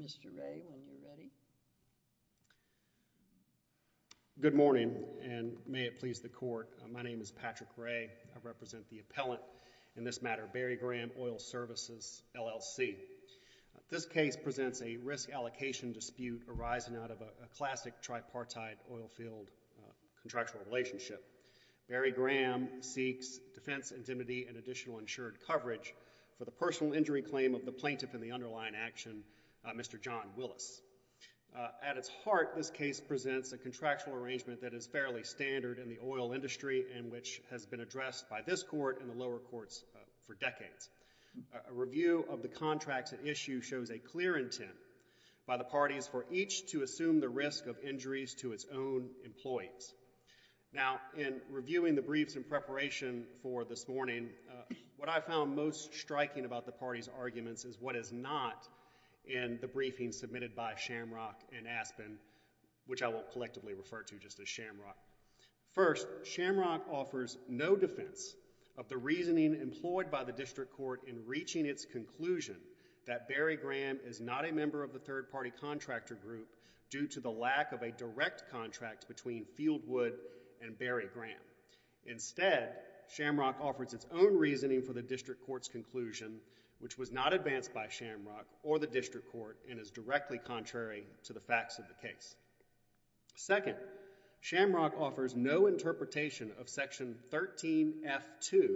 Mr. Ray, when you're ready. Good morning, and may it please the Court, my name is Patrick Ray, I represent the Appellant in this matter, Barry Graham Oil Services, LLC. This case presents a risk allocation dispute arising out of a classic tripartite oilfield contractual relationship. Barry Graham seeks defense intimidy and additional insured coverage for the personal injury claim of the plaintiff in the underlying action, Mr. John Willis. At its heart, this case presents a contractual arrangement that is fairly standard in the legal industry and which has been addressed by this Court and the lower courts for decades. A review of the contracts at issue shows a clear intent by the parties for each to assume the risk of injuries to its own employees. Now in reviewing the briefs in preparation for this morning, what I found most striking about the parties' arguments is what is not in the briefing submitted by Shamrock and Aspen, which I won't collectively refer to just as Shamrock. First, Shamrock offers no defense of the reasoning employed by the District Court in reaching its conclusion that Barry Graham is not a member of the third-party contractor group due to the lack of a direct contract between Fieldwood and Barry Graham. Instead, Shamrock offers its own reasoning for the District Court's conclusion, which was not advanced by Shamrock or the District Court and is directly contrary to the facts of the case. Second, Shamrock offers no interpretation of Section 13F.2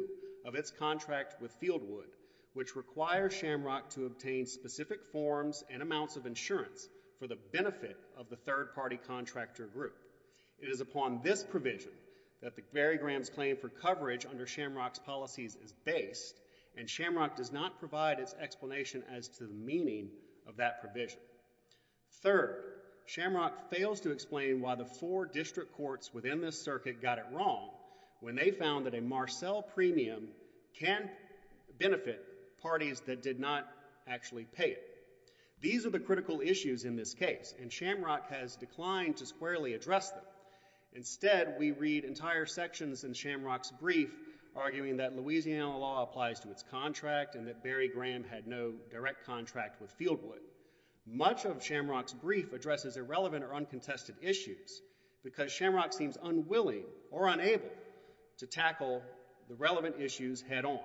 of its contract with Fieldwood, which requires Shamrock to obtain specific forms and amounts of insurance for the benefit of the third-party contractor group. It is upon this provision that Barry Graham's claim for coverage under Shamrock's policies is based, and Shamrock does not provide its explanation as to the meaning of that provision. Third, Shamrock fails to explain why the four District Courts within this circuit got it wrong when they found that a Marcell premium can benefit parties that did not actually pay it. These are the critical issues in this case, and Shamrock has declined to squarely address them. Instead, we read entire sections in Shamrock's brief arguing that Louisiana law applies to its contract and that Barry Graham had no direct contract with Fieldwood. Much of Shamrock's brief addresses irrelevant or uncontested issues because Shamrock seems unwilling or unable to tackle the relevant issues head on.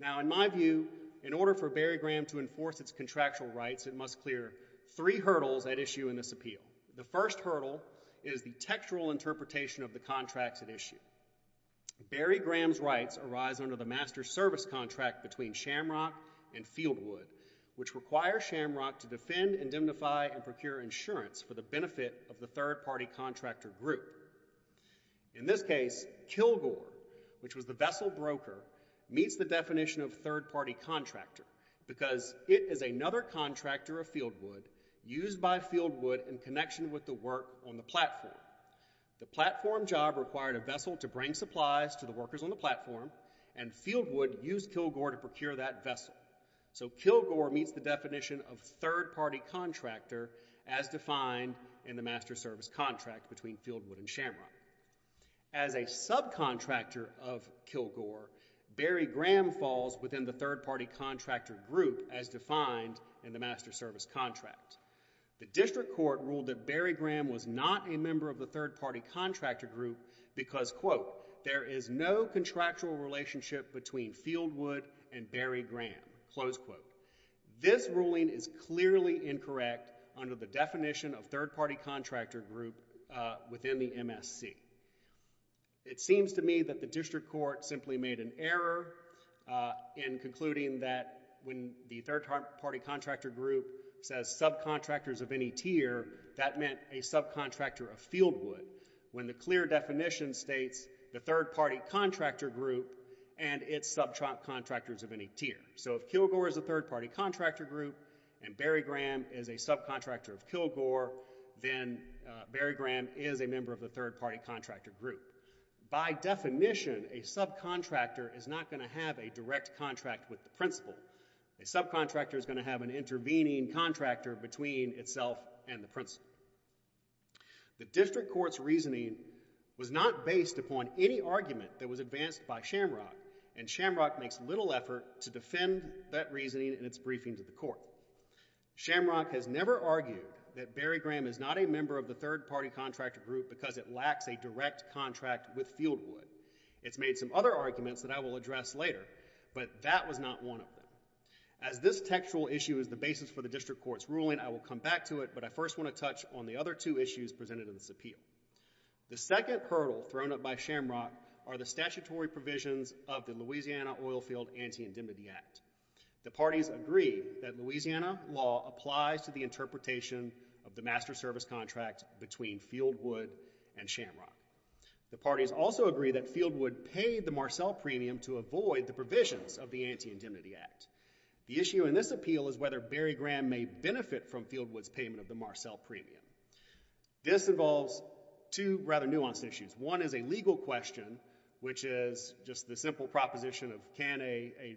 Now, in my view, in order for Barry Graham to enforce its contractual rights, it must clear three hurdles at issue in this appeal. The first hurdle is the textual interpretation of the contracts at issue. Barry Graham's rights arise under the master service contract between Shamrock and Fieldwood, which require Shamrock to defend, indemnify, and procure insurance for the benefit of the third-party contractor group. In this case, Kilgore, which was the vessel broker, meets the definition of third-party contractor because it is another contractor of Fieldwood used by Fieldwood in connection with the work on the platform. The platform job required a vessel to bring supplies to the workers on the platform, and Fieldwood used Kilgore to procure that vessel. So Kilgore meets the definition of third-party contractor as defined in the master service contract between Fieldwood and Shamrock. As a subcontractor of Kilgore, Barry Graham falls within the third-party contractor group as defined in the master service contract. The district court ruled that Barry Graham was not a member of the third-party contractor group because, quote, there is no contractual relationship between Fieldwood and Barry Graham, close quote. This ruling is clearly incorrect under the definition of third-party contractor group within the MSC. It seems to me that the district court simply made an error in concluding that when the third-party contractor group says subcontractors of any tier, that meant a subcontractor of Fieldwood when the clear definition states the third-party contractor group and its subcontractors of any tier. So if Kilgore is a third-party contractor group and Barry Graham is a subcontractor of Kilgore, then Barry Graham is a member of the third-party contractor group. By definition, a subcontractor is not going to have a direct contract with the principal. A subcontractor is going to have an intervening contractor between itself and the principal. The district court's reasoning was not based upon any argument that was advanced by Shamrock, and Shamrock makes little effort to defend that reasoning in its briefing to the court. Shamrock has never argued that Barry Graham is not a member of the third-party contractor group because it lacks a direct contract with Fieldwood. It's made some other arguments that I will address later, but that was not one of them. As this textual issue is the basis for the district court's ruling, I will come back to it, but I first want to touch on the other two issues presented in this appeal. The second hurdle thrown up by Shamrock are the statutory provisions of the Louisiana Oilfield Anti-Indemnity Act. The parties agree that Louisiana law applies to the interpretation of the master service contract between Fieldwood and Shamrock. The parties also agree that Fieldwood paid the Marcell premium to avoid the provisions of the Anti-Indemnity Act. The issue in this appeal is whether Barry Graham may benefit from Fieldwood's payment of the Marcell premium. This involves two rather nuanced issues. One is a legal question, which is just the simple proposition of can a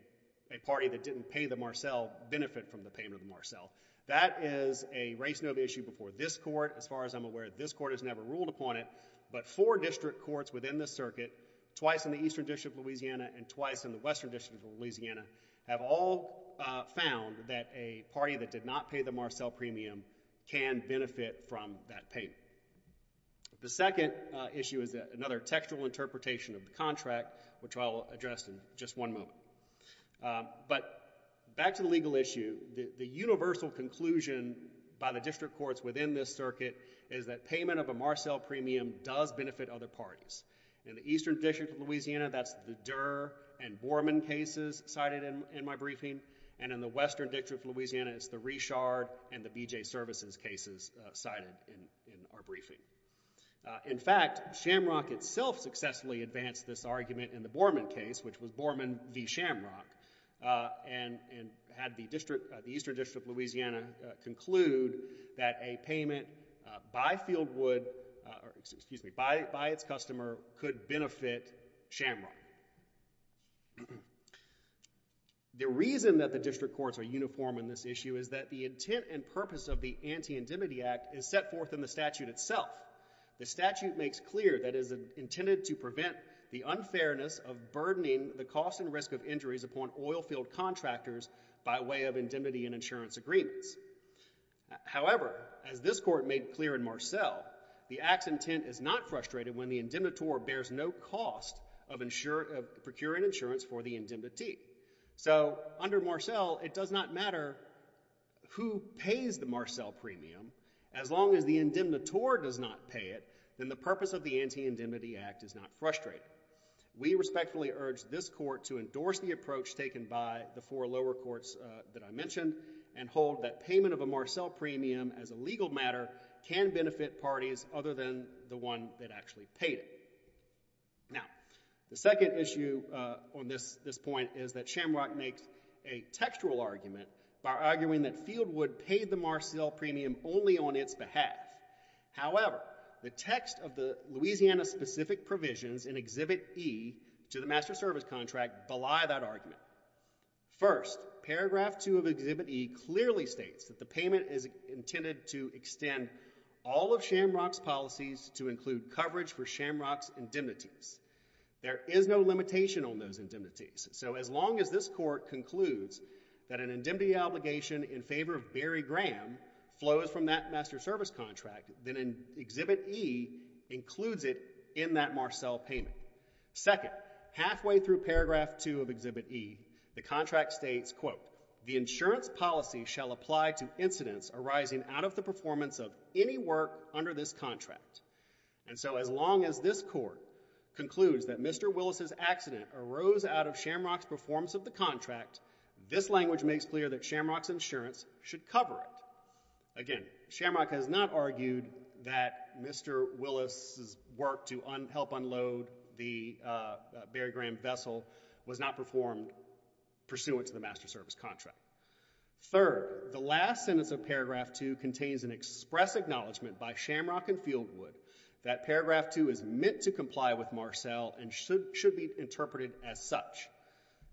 party that didn't pay the Marcell benefit from the payment of the Marcell. That is a race-novel issue before this court. As far as I'm aware, this court has never ruled upon it, but four district courts within the circuit, twice in the Eastern District of Louisiana and twice in the Western District of Louisiana, have all found that a party that did not pay the Marcell premium can benefit from that payment. The second issue is another textual interpretation of the contract, which I'll address in just one moment. But back to the legal issue, the universal conclusion by the district courts within this circuit is that payment of a Marcell premium does benefit other parties. In the Eastern District of Louisiana, that's the Durer and Borman cases cited in my briefing, and in the Western District of Louisiana, it's the Richard and the BJ Services cases cited in our briefing. In fact, Shamrock itself successfully advanced this argument in the Borman case, which was by its customer could benefit Shamrock. The reason that the district courts are uniform in this issue is that the intent and purpose of the Anti-Indemnity Act is set forth in the statute itself. The statute makes clear that it is intended to prevent the unfairness of burdening the cost and risk of injuries upon oilfield contractors by way of indemnity and insurance agreements. However, as this court made clear in Marcell, the act's intent is not frustrated when the indemnitor bears no cost of procuring insurance for the indemnity. So under Marcell, it does not matter who pays the Marcell premium. As long as the indemnitor does not pay it, then the purpose of the Anti-Indemnity Act is not frustrated. We respectfully urge this court to endorse the approach taken by the four lower courts that I mentioned and hold that payment of a Marcell premium as a legal matter can benefit parties other than the one that actually paid it. Now, the second issue on this point is that Shamrock makes a textual argument by arguing that Fieldwood paid the Marcell premium only on its behalf. However, the text of the Louisiana-specific provisions in Exhibit E to the Master Service Contract belie that argument. First, Paragraph 2 of Exhibit E clearly states that the payment is intended to extend all of Shamrock's policies to include coverage for Shamrock's indemnities. There is no limitation on those indemnities. So as long as this court concludes that an indemnity obligation in favor of Barry Graham flows from that Master Service Contract, then Exhibit E includes it in that Marcell payment. Second, halfway through Paragraph 2 of Exhibit E, the contract states, quote, the insurance policy shall apply to incidents arising out of the performance of any work under this contract. And so as long as this court concludes that Mr. Willis's accident arose out of Shamrock's performance of the contract, this language makes clear that Shamrock's insurance should cover it. Again, Shamrock has not argued that Mr. Willis's work to help unload the Barry Graham vessel was not performed pursuant to the Master Service Contract. Third, the last sentence of Paragraph 2 contains an express acknowledgment by Shamrock and Fieldwood that Paragraph 2 is meant to comply with Marcell and should be interpreted as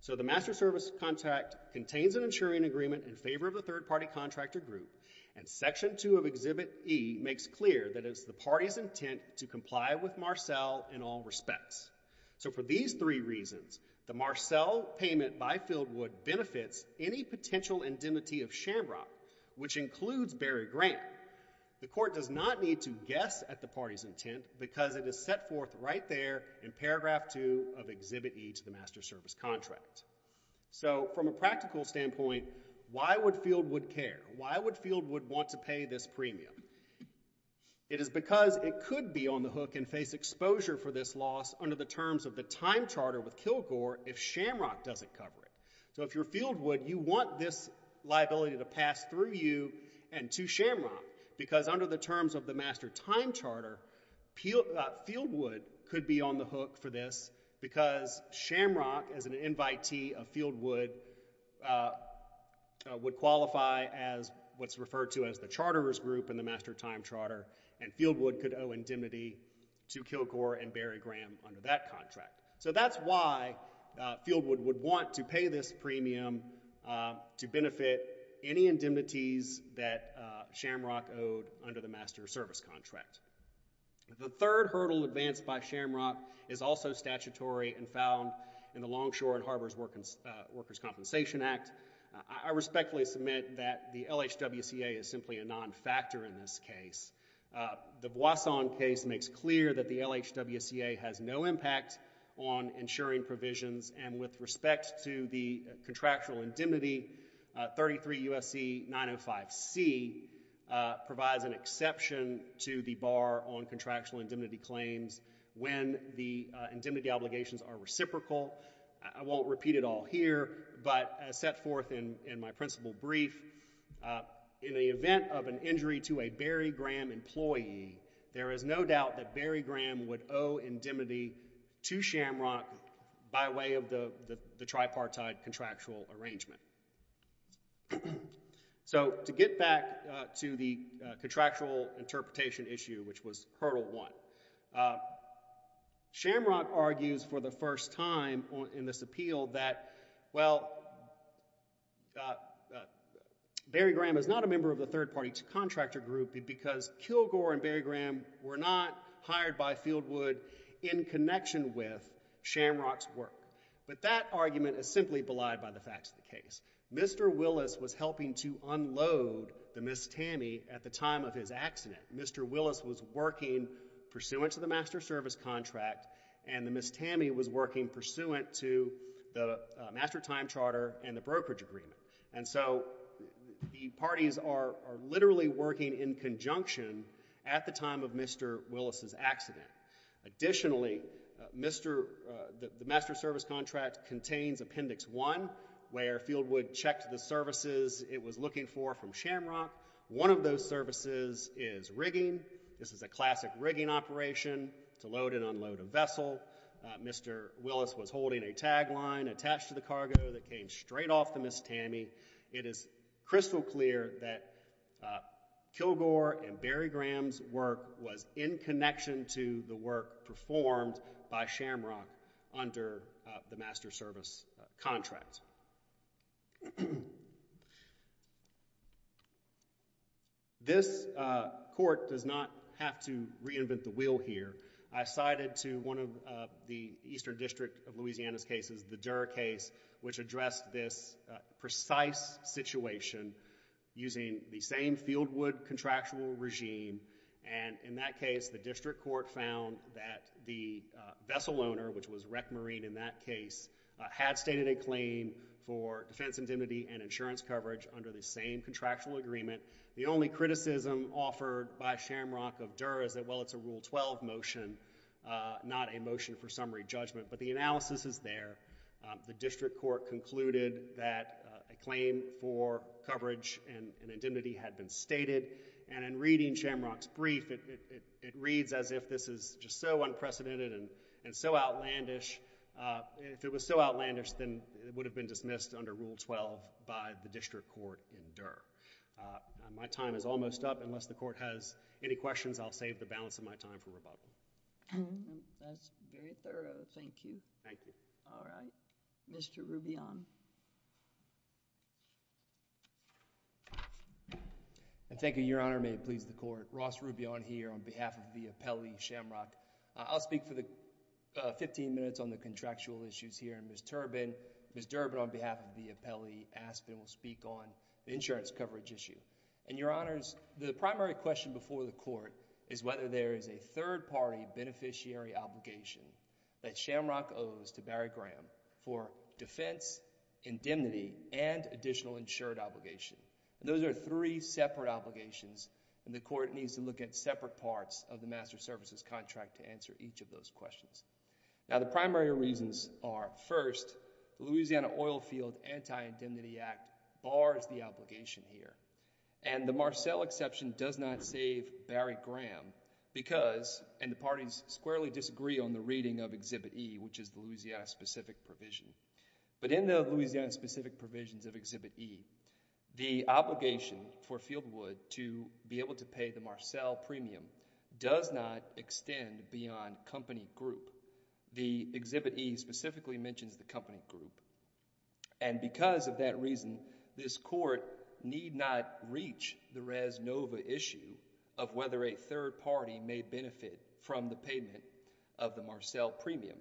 So the Master Service Contract contains an insuring agreement in favor of a third-party contractor group, and Section 2 of Exhibit E makes clear that it's the party's intent to comply with Marcell in all respects. So for these three reasons, the Marcell payment by Fieldwood benefits any potential indemnity of Shamrock, which includes Barry Graham. The court does not need to guess at the party's intent because it is set forth right there in Paragraph 2 of Exhibit E to the Master Service Contract. So from a practical standpoint, why would Fieldwood care? Why would Fieldwood want to pay this premium? It is because it could be on the hook and face exposure for this loss under the terms of the time charter with Kilgore if Shamrock doesn't cover it. So if you're Fieldwood, you want this liability to pass through you and to Shamrock because under the terms of the Master Time Charter, Fieldwood could be on the hook for this because Shamrock, as an invitee of Fieldwood, would qualify as what's referred to as the charterer's group in the Master Time Charter, and Fieldwood could owe indemnity to Kilgore and Barry Graham under that contract. So that's why Fieldwood would want to pay this premium to benefit any indemnities that Shamrock owed under the Master Service Contract. The third hurdle advanced by Shamrock is also statutory and found in the Longshore and Harbors Workers' Compensation Act. I respectfully submit that the LHWCA is simply a non-factor in this case. The Boisson case makes clear that the LHWCA has no impact on insuring provisions, and with respect to the contractual indemnity, 33 U.S.C. 905C provides an exception to the bar on contractual indemnity claims when the indemnity obligations are reciprocal. I won't repeat it all here, but as set forth in my principal brief, in the event of an injury to a Barry Graham employee, there is no doubt that Barry Graham would owe indemnity to Shamrock by way of the tripartite contractual arrangement. So, to get back to the contractual interpretation issue, which was hurdle one, Shamrock argues for the first time in this appeal that, well, Barry Graham is not a member of the third party to contractor group because Kilgore and Barry Graham were not hired by Fieldwood in connection with Shamrock's work. But that argument is simply belied by the facts of the case. Mr. Willis was helping to unload the Miss Tammy at the time of his accident. Mr. Willis was working pursuant to the master service contract, and the Miss Tammy was working pursuant to the master time charter and the brokerage agreement. And so, the parties are literally working in conjunction at the time of Mr. Willis' Additionally, the master service contract contains appendix one, where Fieldwood checked the services it was looking for from Shamrock. One of those services is rigging. This is a classic rigging operation to load and unload a vessel. Mr. Willis was holding a tagline attached to the cargo that came straight off the Miss Tammy. It is crystal clear that Kilgore and Barry Graham's work was in connection to the work performed by Shamrock under the master service contract. This court does not have to reinvent the wheel here. I cited to one of the Eastern District of Louisiana's cases, the Durer case, which addressed this precise situation using the same Fieldwood contractual regime. And in that case, the district court found that the vessel owner, which was Rec Marine in that case, had stated a claim for defense indemnity and insurance coverage under the same contractual agreement. The only criticism offered by Shamrock of Durer is that, well, it's a Rule 12 motion, not a motion for summary judgment. But the analysis is there. The district court concluded that a claim for coverage and indemnity had been stated. And in reading Shamrock's brief, it reads as if this is just so unprecedented and so outlandish, and if it was so outlandish, then it would have been dismissed under Rule 12 by the district court in Durer. My time is almost up. Unless the court has any questions, I'll save the balance of my time for rebuttal. That's very thorough. Thank you. Thank you. All right. Mr. Rubion. Thank you, Your Honor. May it please the Court. Ross Rubion here on behalf of the appellee, Shamrock. I'll speak for the 15 minutes on the contractual issues here, and Ms. Durbin, Ms. Durbin on behalf of the appellee, Aspen, will speak on the insurance coverage issue. And Your Honors, the primary question before the Court is whether there is a third-party beneficiary obligation that Shamrock owes to Barry Graham for defense, indemnity, and additional insured obligation. And those are three separate obligations, and the Court needs to look at separate parts of the master services contract to answer each of those questions. Now the primary reasons are, first, the Louisiana Oilfield Anti-Indemnity Act bars the obligation here, and the Marcell exception does not save Barry Graham because, and the parties squarely disagree on the reading of Exhibit E, which is the Louisiana-specific provision. But in the Louisiana-specific provisions of Exhibit E, the obligation for Fieldwood to be able to pay the Marcell premium does not extend beyond company group. The Exhibit E specifically mentions the company group, and because of that reason, this Court need not reach the res nova issue of whether a third party may benefit from the payment of the Marcell premium.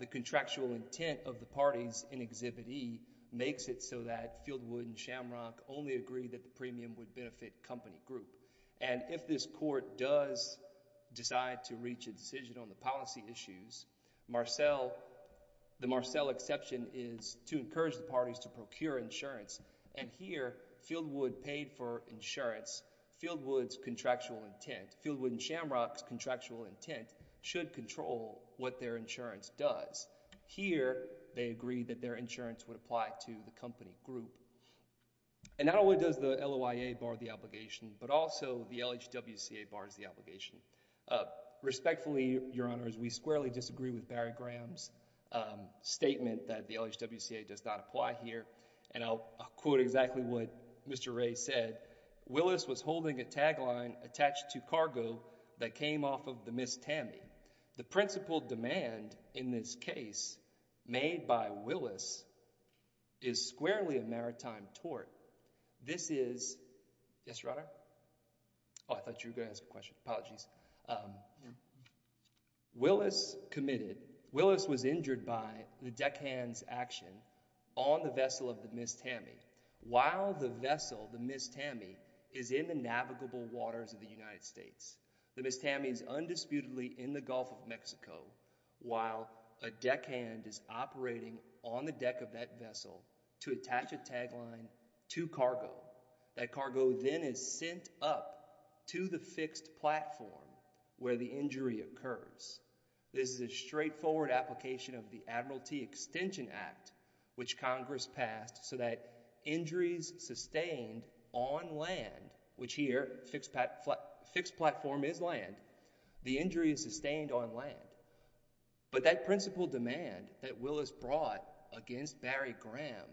The contractual intent of the parties in Exhibit E makes it so that Fieldwood and Shamrock only agree that the premium would benefit company group. And if this Court does decide to reach a decision on the policy issues, Marcell, the Marcell exception is to encourage the parties to procure insurance, and here, Fieldwood paid for insurance, Fieldwood's contractual intent, Fieldwood and Shamrock's contractual intent should control what their insurance does. Here, they agree that their insurance would apply to the company group. And not only does the LOIA bar the obligation, but also the LHWCA bars the obligation. Respectfully, Your Honors, we squarely disagree with Barry Graham's statement that the LHWCA does not apply here, and I'll quote exactly what Mr. Wray said, Willis was holding a tagline attached to cargo that came off of the Miss Tammy. The principal demand in this case made by Willis is squarely a maritime tort. This is, yes, Your Honor? Oh, I thought you were going to ask a question. Apologies. Willis committed, Willis was injured by the deckhand's action on the vessel of the Miss Tammy. While the vessel, the Miss Tammy, is in the navigable waters of the United States, the Miss Tammy is undisputedly in the Gulf of Mexico, while a deckhand is operating on the deck of that vessel to attach a tagline to cargo. That cargo then is sent up to the fixed platform where the injury occurs. This is a straightforward application of the Admiralty Extension Act, which Congress passed so that injuries sustained on land, which here, fixed platform is land, the injury is sustained on land. But that principal demand that Willis brought against Barry Graham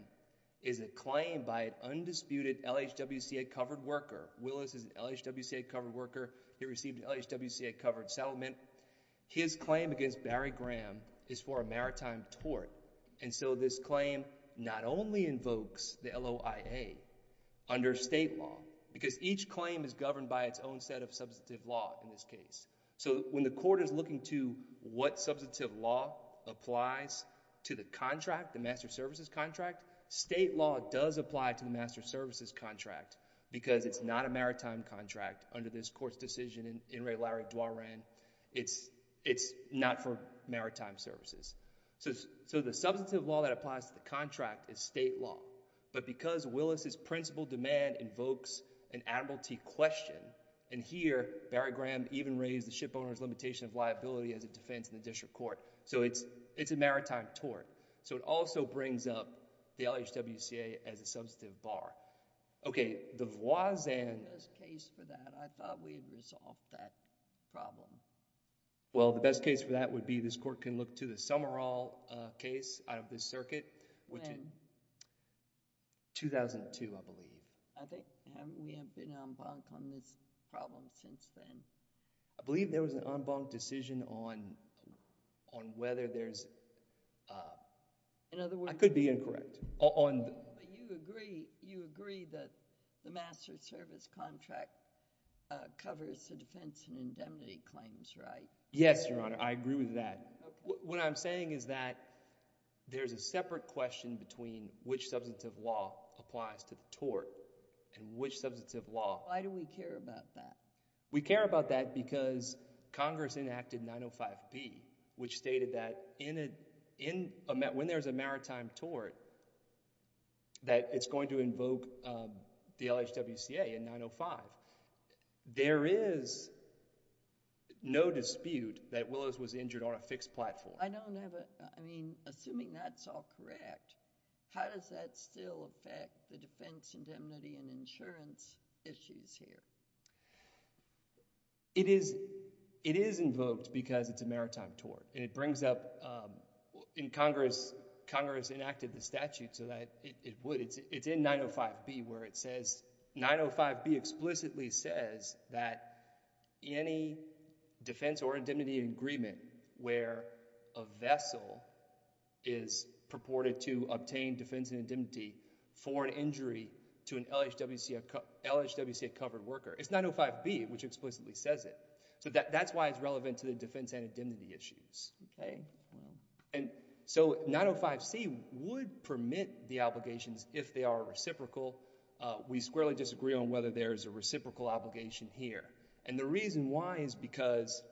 is a claim by an undisputed LHWCA-covered worker. Willis is an LHWCA-covered worker. He received an LHWCA-covered settlement. His claim against Barry Graham is for a maritime tort, and so this claim not only invokes the LOIA under state law, because each claim is governed by its own set of substantive law in this case. So, when the court is looking to what substantive law applies to the contract, the master services contract, state law does apply to the master services contract, because it's not a maritime contract under this court's decision in Ray Larry Dwarren. It's not for maritime services. So, the substantive law that applies to the contract is state law. But because Willis' principal demand invokes an Admiralty question, and here, Barry Graham even raised the shipowner's limitation of liability as a defense in the district court. So, it's a maritime tort. So, it also brings up the LHWCA as a substantive bar. Okay. The Voisin... The best case for that, I thought we had resolved that problem. Well, the best case for that would be this court can look to the Summerall case out of this circuit, which... 2002, I believe. I think we have been en banc on this problem since then. I believe there was an en banc decision on whether there's... In other words... I could be incorrect. But you agree that the master service contract covers the defense and indemnity claims, right? Yes, Your Honor. I agree with that. Okay. What I'm saying is that there's a separate question between which substantive law applies to the tort and which substantive law... Why do we care about that? We care about that because Congress enacted 905B, which stated that when there's a maritime tort, that it's going to invoke the LHWCA in 905. There is no dispute that Willows was injured on a fixed platform. Well, I don't have a... I mean, assuming that's all correct, how does that still affect the defense, indemnity, and insurance issues here? It is invoked because it's a maritime tort, and it brings up... Congress enacted the statute so that it would. It's in 905B where it says... 905B explicitly says that any defense or indemnity agreement where a vessel is purported to obtain defense and indemnity for an injury to an LHWCA-covered worker, it's 905B which explicitly says it. That's why it's relevant to the defense and indemnity issues. 905C would permit the obligations if they are reciprocal. We squarely disagree on whether there is a reciprocal obligation here. The reason why is because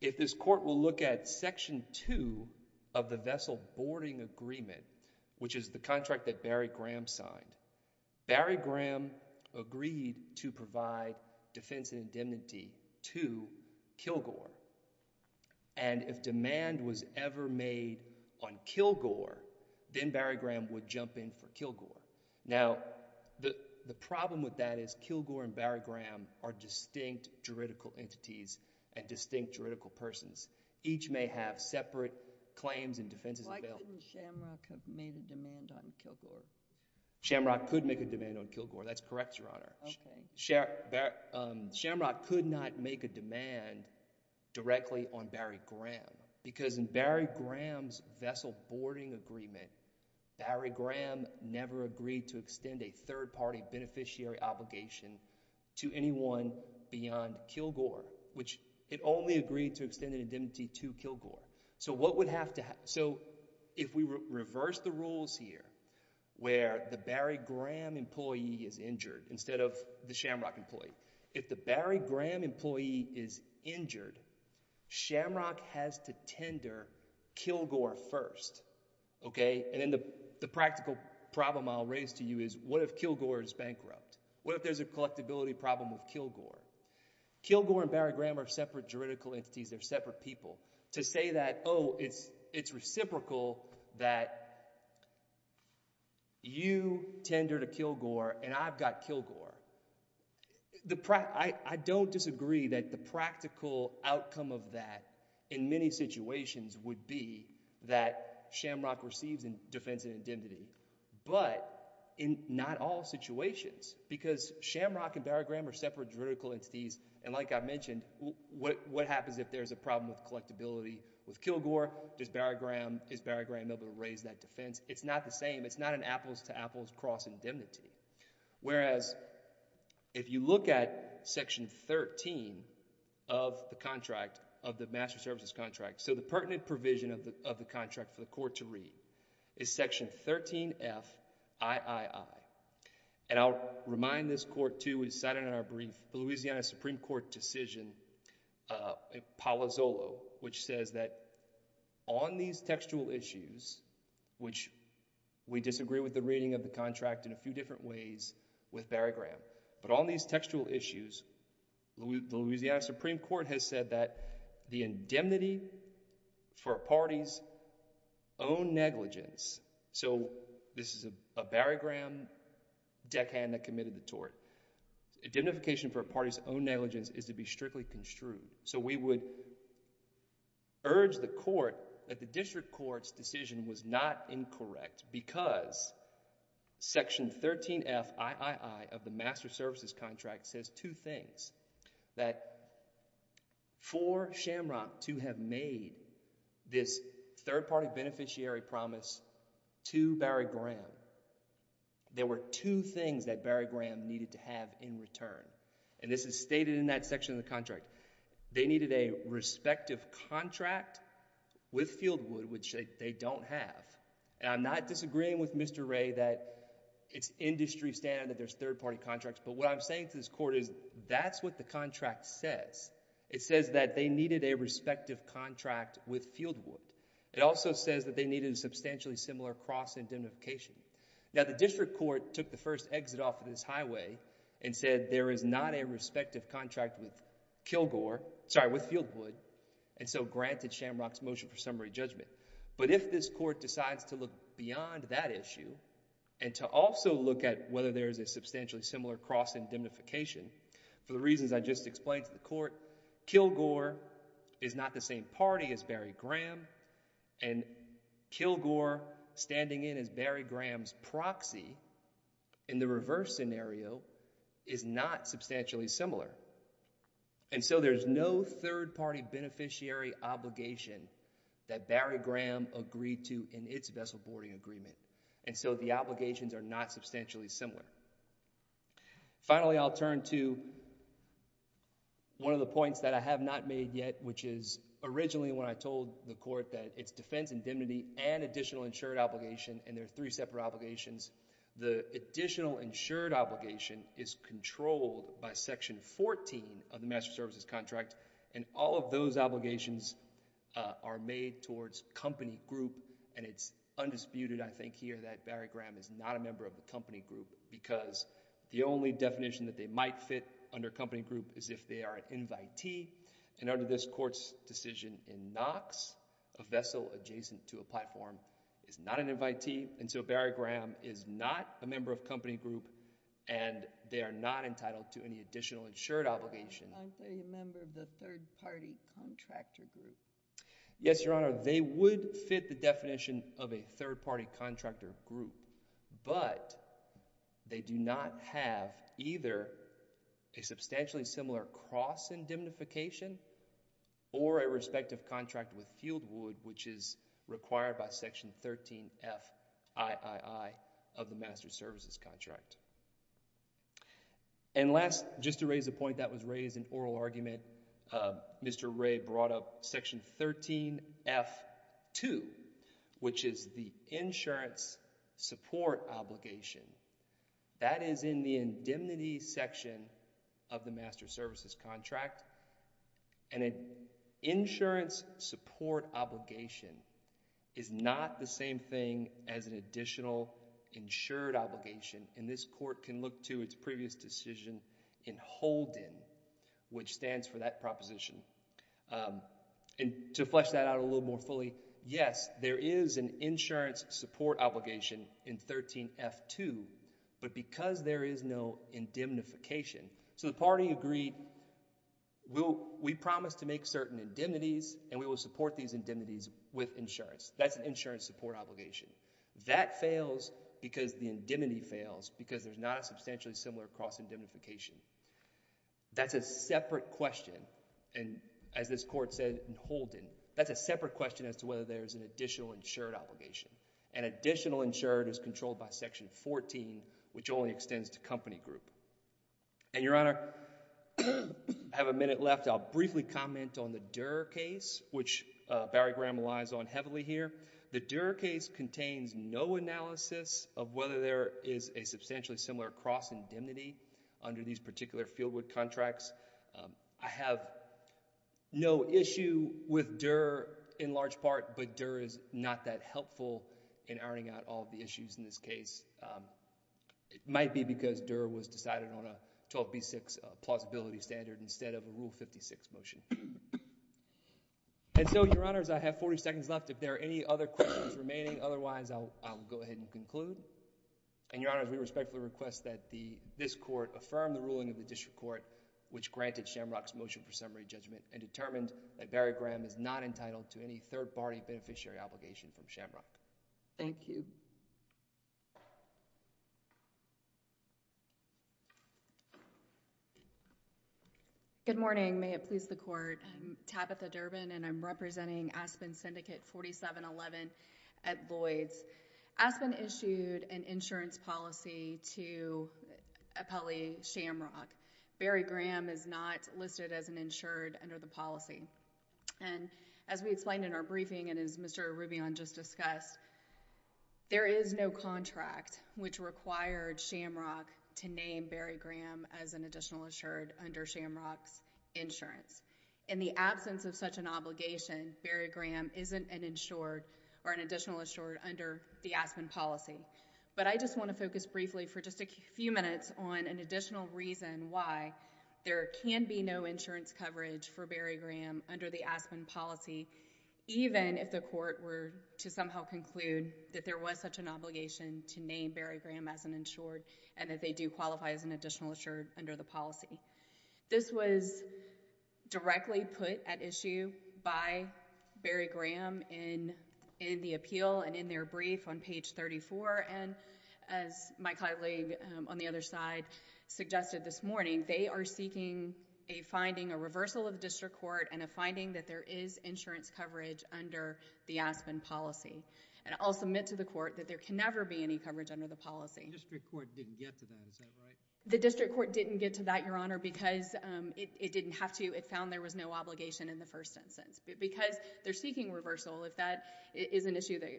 if this Court will look at Section 2 of the Vessel Boarding Agreement, which is the contract that Barry Graham signed, Barry Graham agreed to provide defense and indemnity to Kilgore. And if demand was ever made on Kilgore, then Barry Graham would jump in for Kilgore. Now, the problem with that is Kilgore and Barry Graham are distinct juridical entities and distinct juridical persons. Each may have separate claims and defenses available. Why couldn't Shamrock have made a demand on Kilgore? Shamrock could make a demand on Kilgore. That's correct, Your Honor. Okay. Shamrock could not make a demand directly on Barry Graham because in Barry Graham's Vessel Boarding Agreement, Barry Graham never agreed to extend a third-party beneficiary obligation to anyone beyond Kilgore, which it only agreed to extend an indemnity to Kilgore. So what would have to – so if we reverse the rules here where the Barry Graham employee is injured instead of the Shamrock employee, if the Barry Graham employee is injured, Shamrock has to tender Kilgore first, okay? And then the practical problem I'll raise to you is what if Kilgore is bankrupt? What if there's a collectability problem with Kilgore? Kilgore and Barry Graham are separate juridical entities. They're separate people. To say that, oh, it's reciprocal that you tender to Kilgore and I've got Kilgore, I don't disagree that the practical outcome of that in many situations would be that Shamrock receives a defense and indemnity, but in not all situations because Shamrock and Barry Graham are separate juridical entities, and like I mentioned, what happens if there's a problem with collectability with Kilgore? Does Barry Graham – is Barry Graham able to raise that defense? It's not the same. It's not an apples-to-apples cross-indemnity. Whereas if you look at section 13 of the contract, of the master services contract, so the pertinent provision of the contract for the court to read is section 13FIII, and I'll remind this court too, we decided in our brief, the Louisiana Supreme Court decision, Palazzolo, which says that on these textual issues, which we disagree with the reading of the contract in a few different ways with Barry Graham, but on these textual issues, the Louisiana Supreme Court has said that the indemnity for a party's own negligence, so this is a Barry Graham deckhand that committed the tort, indemnification for a party's own negligence is to be strictly construed. So, we would urge the court that the district court's decision was not incorrect because section 13FIII of the master services contract says two things, that for Shamrock to have made this third-party beneficiary promise to Barry Graham, there were two things that Barry Graham needed to have in return. And this is stated in that section of the contract. They needed a respective contract with Fieldwood, which they don't have. And I'm not disagreeing with Mr. Ray that it's industry standard that there's third-party contracts, but what I'm saying to this court is that's what the contract says. It says that they needed a respective contract with Fieldwood. It also says that they needed a substantially similar cross indemnification. Now, the district court took the first exit off of this highway and said there is not a respective contract with Fieldwood, and so granted Shamrock's motion for summary judgment. But if this court decides to look beyond that issue and to also look at whether there's a substantially similar cross indemnification, for the reasons I just explained to the court, Kilgore is not the same party as Barry Graham, and Kilgore standing in as Barry Graham's proxy in the reverse scenario is not substantially similar. And so there's no third-party beneficiary obligation that Barry Graham agreed to in its vessel boarding agreement, and so the obligations are not substantially similar. Finally, I'll turn to one of the points that I have not made yet, which is originally when I told the court that it's defense indemnity and additional insured obligation, and there are three separate obligations. The additional insured obligation is controlled by Section 14 of the Master Services Contract, and all of those obligations are made towards company group, and it's undisputed, I think, here that Barry Graham is not a member of the company group because the only definition that they might fit under company group is if they are an invitee, and under this court's decision in Knox, a vessel adjacent to a platform is not an invitee, and so Barry Graham is not a member of company group, and they are not entitled to any additional insured obligation. Aren't they a member of the third-party contractor group? Yes, Your Honor, they would fit the definition of a third-party contractor group, but they do not have either a substantially similar cross indemnification or a respective contract with Fieldwood, which is required by Section 13FIII of the Master Services Contract. And last, just to raise a point that was raised in oral argument, Mr. Ray brought up Section 13FII, which is the insurance support obligation. That is in the indemnity section of the Master Services Contract, and an insurance support obligation is not the same thing as an additional insured obligation, and this court can look to its previous decision in Holden, which stands for that proposition, and to flesh that out a little more fully, yes, there is an insurance support obligation in 13FII, but because there is no indemnification, so the party agreed, we promise to make certain indemnities, and we will support these indemnities with insurance. That's an insurance support obligation. That fails because the indemnity fails, because there's not a substantially similar cross indemnification. That's a separate question, and as this court said in Holden, that's a separate question as to whether there's an additional insured obligation. An additional insured is controlled by Section 14, which only extends to company group. And, Your Honor, I have a minute left. I'll briefly comment on the Durer case, which Barry Graham relies on heavily here. The Durer case contains no analysis of whether there is a substantially similar cross indemnity under these particular fieldwood contracts. I have no issue with Durer in large part, but Durer is not that helpful in ironing out all the issues in this case. It might be because Durer was decided on a 12B6 plausibility standard instead of a Rule 56 motion. And so, Your Honors, I have 40 seconds left. If there are any other questions remaining, otherwise, I'll go ahead and conclude. And, Your Honors, we respectfully request that this court affirm the ruling of the District Court, which granted Shamrock's motion for summary judgment and determined that Barry Graham is not entitled to any third-party beneficiary obligation from Shamrock. Thank you. Good morning. May it please the Court. I'm Tabitha Durbin, and I'm representing Aspen Syndicate 4711 at Lloyds. Aspen issued an insurance policy to appellee Shamrock. Barry Graham is not listed as an insured under the policy. And, as we explained in our briefing and as Mr. Rubion just discussed, there is no contract which required Shamrock to name Barry Graham as an additional insured under Shamrock's In the absence of such an obligation, Barry Graham isn't an insured or an additional insured under the Aspen policy. But I just want to focus briefly for just a few minutes on an additional reason why there can be no insurance coverage for Barry Graham under the Aspen policy, even if the insured and that they do qualify as an additional insured under the policy. This was directly put at issue by Barry Graham in the appeal and in their brief on page 34. And, as my colleague on the other side suggested this morning, they are seeking a finding, a reversal of the District Court, and a finding that there is insurance coverage under the Aspen policy. And, I'll submit to the Court that there can never be any coverage under the policy. The District Court didn't get to that, is that right? The District Court didn't get to that, Your Honor, because it didn't have to. It found there was no obligation in the first instance. Because they're seeking reversal, if that is an issue that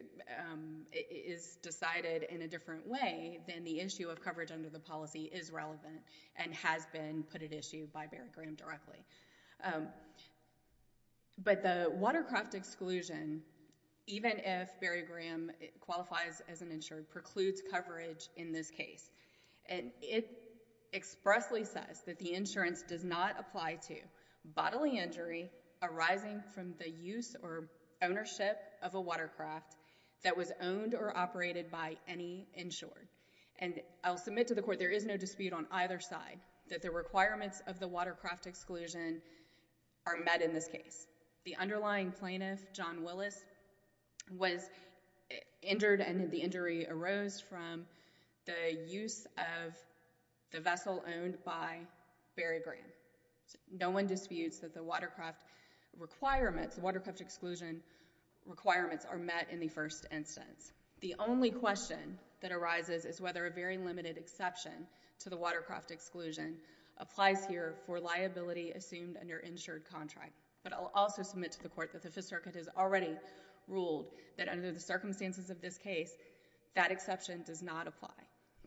is decided in a different way, then the issue of coverage under the policy is relevant and has been put at issue by Barry Graham directly. But, the watercraft exclusion, even if Barry Graham qualifies as an insured, precludes coverage in this case. And, it expressly says that the insurance does not apply to bodily injury arising from the use or ownership of a watercraft that was owned or operated by any insured. And, I'll submit to the Court there is no dispute on either side that the requirements of the watercraft exclusion are met in this case. The underlying plaintiff, John Willis, was injured and the injury arose from the use of the vessel owned by Barry Graham. No one disputes that the watercraft exclusion requirements are met in the first instance. The only question that arises is whether a very limited exception to the watercraft exclusion applies here for liability assumed under insured contract. But, I'll also submit to the Court that the Fifth Circuit has already ruled that under the circumstances of this case, that exception does not apply.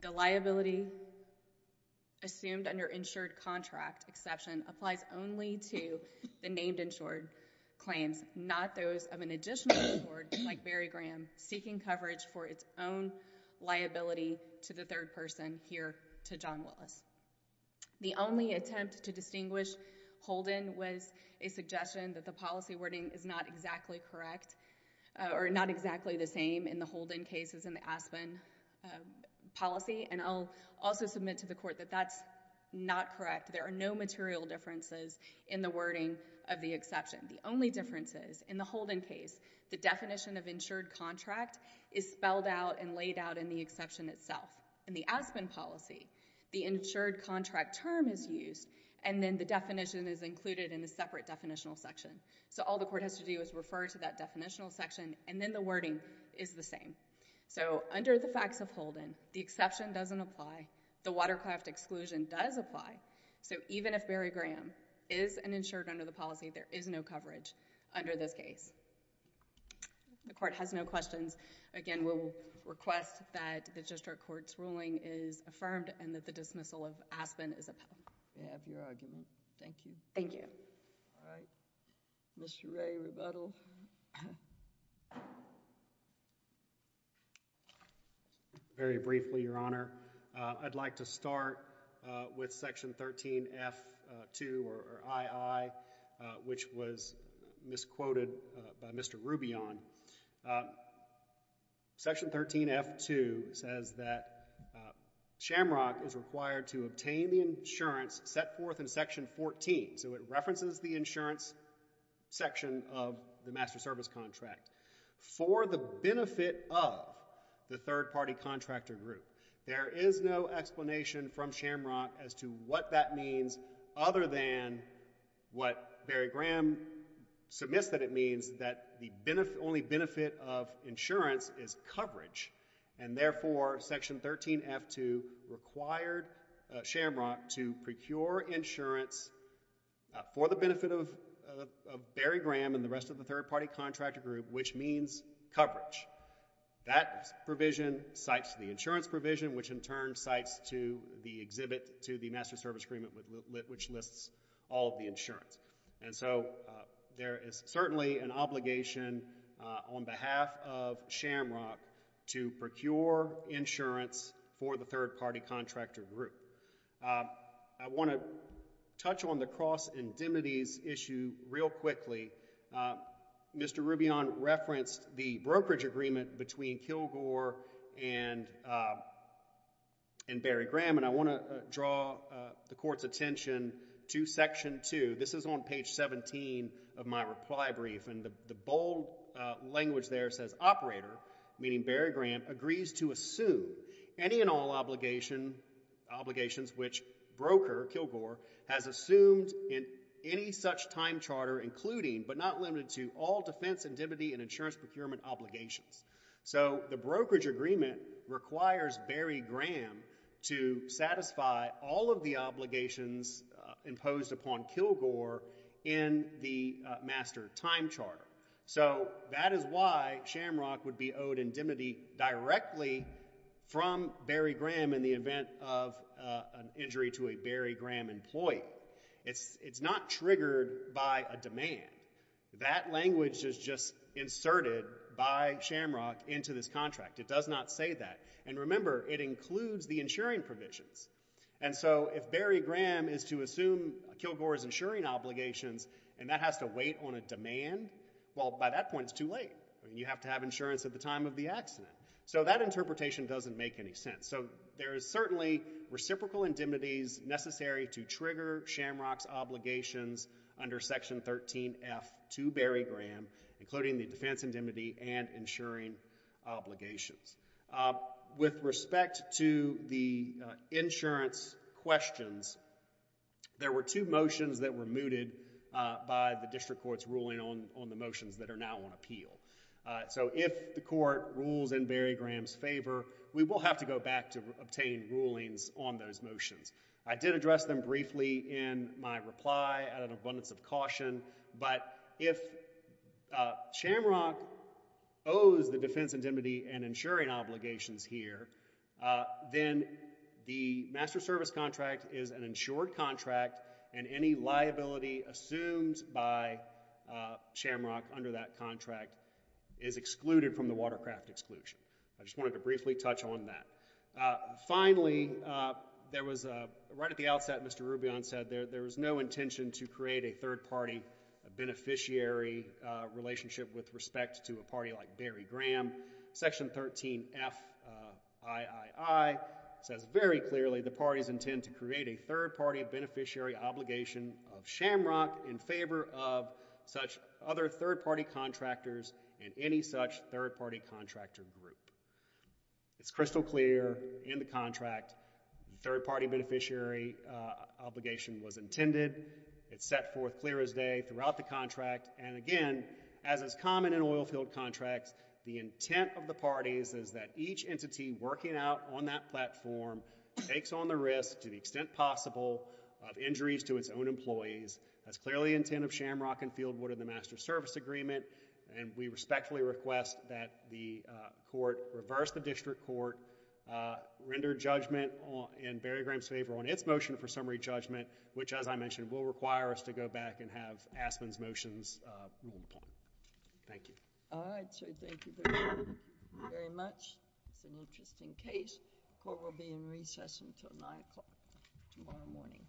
The liability assumed under insured contract exception applies only to the named insured claims, not those of an additional insured, like Barry Graham, seeking coverage for its own liability to the third person here to John Willis. The only attempt to distinguish Holden was a suggestion that the policy wording is not exactly correct, or not exactly the same in the Holden cases in the Aspen policy. And, I'll also submit to the Court that that's not correct. There are no material differences in the wording of the exception. The only difference is, in the Holden case, the definition of insured contract is spelled out and laid out in the exception itself. In the Aspen policy, the insured contract term is used, and then the definition is included in a separate definitional section. So, all the Court has to do is refer to that definitional section, and then the wording is the same. So, under the facts of Holden, the exception doesn't apply. The watercraft exclusion does apply. So, even if Barry Graham is an insured under the policy, there is no coverage under this case. The Court has no questions. Again, we'll request that the district court's ruling is affirmed, and that the dismissal of Aspen is upheld. We have your argument. Thank you. Thank you. All right. Mr. Ray, rebuttal. Very briefly, Your Honor. I'd like to start with Section 13F2 or II, which was misquoted by Mr. Rubion. Section 13F2 says that Shamrock is required to obtain the insurance set forth in Section 14. So, it references the insurance section of the Master Service Contract. For the benefit of the third-party contractor group, there is no explanation from Shamrock as to what that means other than what Barry Graham submits that it means, that the only benefit of insurance is coverage. And, therefore, Section 13F2 required Shamrock to procure insurance for the benefit of Barry Graham's third-party contractor group, which means coverage. That provision cites the insurance provision, which in turn cites the exhibit to the Master Service Agreement, which lists all of the insurance. And so, there is certainly an obligation on behalf of Shamrock to procure insurance for the third-party contractor group. I want to touch on the cross indemnities issue real quickly. Mr. Rubion referenced the brokerage agreement between Kilgore and Barry Graham, and I want to draw the Court's attention to Section 2. This is on page 17 of my reply brief, and the bold language there says, Operator, meaning broker, Kilgore, has assumed in any such time charter, including, but not limited to, all defense indemnity and insurance procurement obligations. So, the brokerage agreement requires Barry Graham to satisfy all of the obligations imposed upon Kilgore in the Master Time Charter. So, that is why Shamrock would be owed indemnity directly from Barry Graham in the event of an injury to a Barry Graham employee. It's not triggered by a demand. That language is just inserted by Shamrock into this contract. It does not say that. And remember, it includes the insuring provisions. And so, if Barry Graham is to assume Kilgore's insuring obligations, and that has to wait on a demand, well, by that point, it's too late. You have to have insurance at the time of the accident. So, that interpretation doesn't make any sense. So, there is certainly reciprocal indemnities necessary to trigger Shamrock's obligations under Section 13F to Barry Graham, including the defense indemnity and insuring obligations. With respect to the insurance questions, there were two motions that were mooted by the District Court's ruling on the motions that are now on appeal. So, if the Court rules in Barry Graham's favor, we will have to go back to obtain rulings on those motions. I did address them briefly in my reply, out of an abundance of caution. But if Shamrock owes the defense indemnity and insuring obligations here, then the Master Service Contract is an insured contract, and any liability assumed by Shamrock under that contract is excluded from the Watercraft Exclusion. I just wanted to briefly touch on that. Finally, there was, right at the outset, Mr. Rubion said there was no intention to create a third-party beneficiary relationship with respect to a party like Barry Graham. Section 13F III says very clearly the parties intend to create a third-party beneficiary obligation of Shamrock in favor of such other third-party contractors and any such third-party contractor group. It's crystal clear in the contract the third-party beneficiary obligation was intended. It's set forth clear as day throughout the contract. Again, as is common in oilfield contracts, the intent of the parties is that each entity working out on that platform takes on the risk, to the extent possible, of injuries to its own employees. That's clearly the intent of Shamrock and Fieldwood in the Master Service Agreement. We respectfully request that the Court reverse the district court, render judgment in Barry Graham's favor on its motion for summary judgment, which, as I mentioned, will require us to go back and have Aspen's motions ruled upon. Thank you. All right. So thank you very much. It's an interesting case. The Court will be in recess until 9 o'clock tomorrow morning.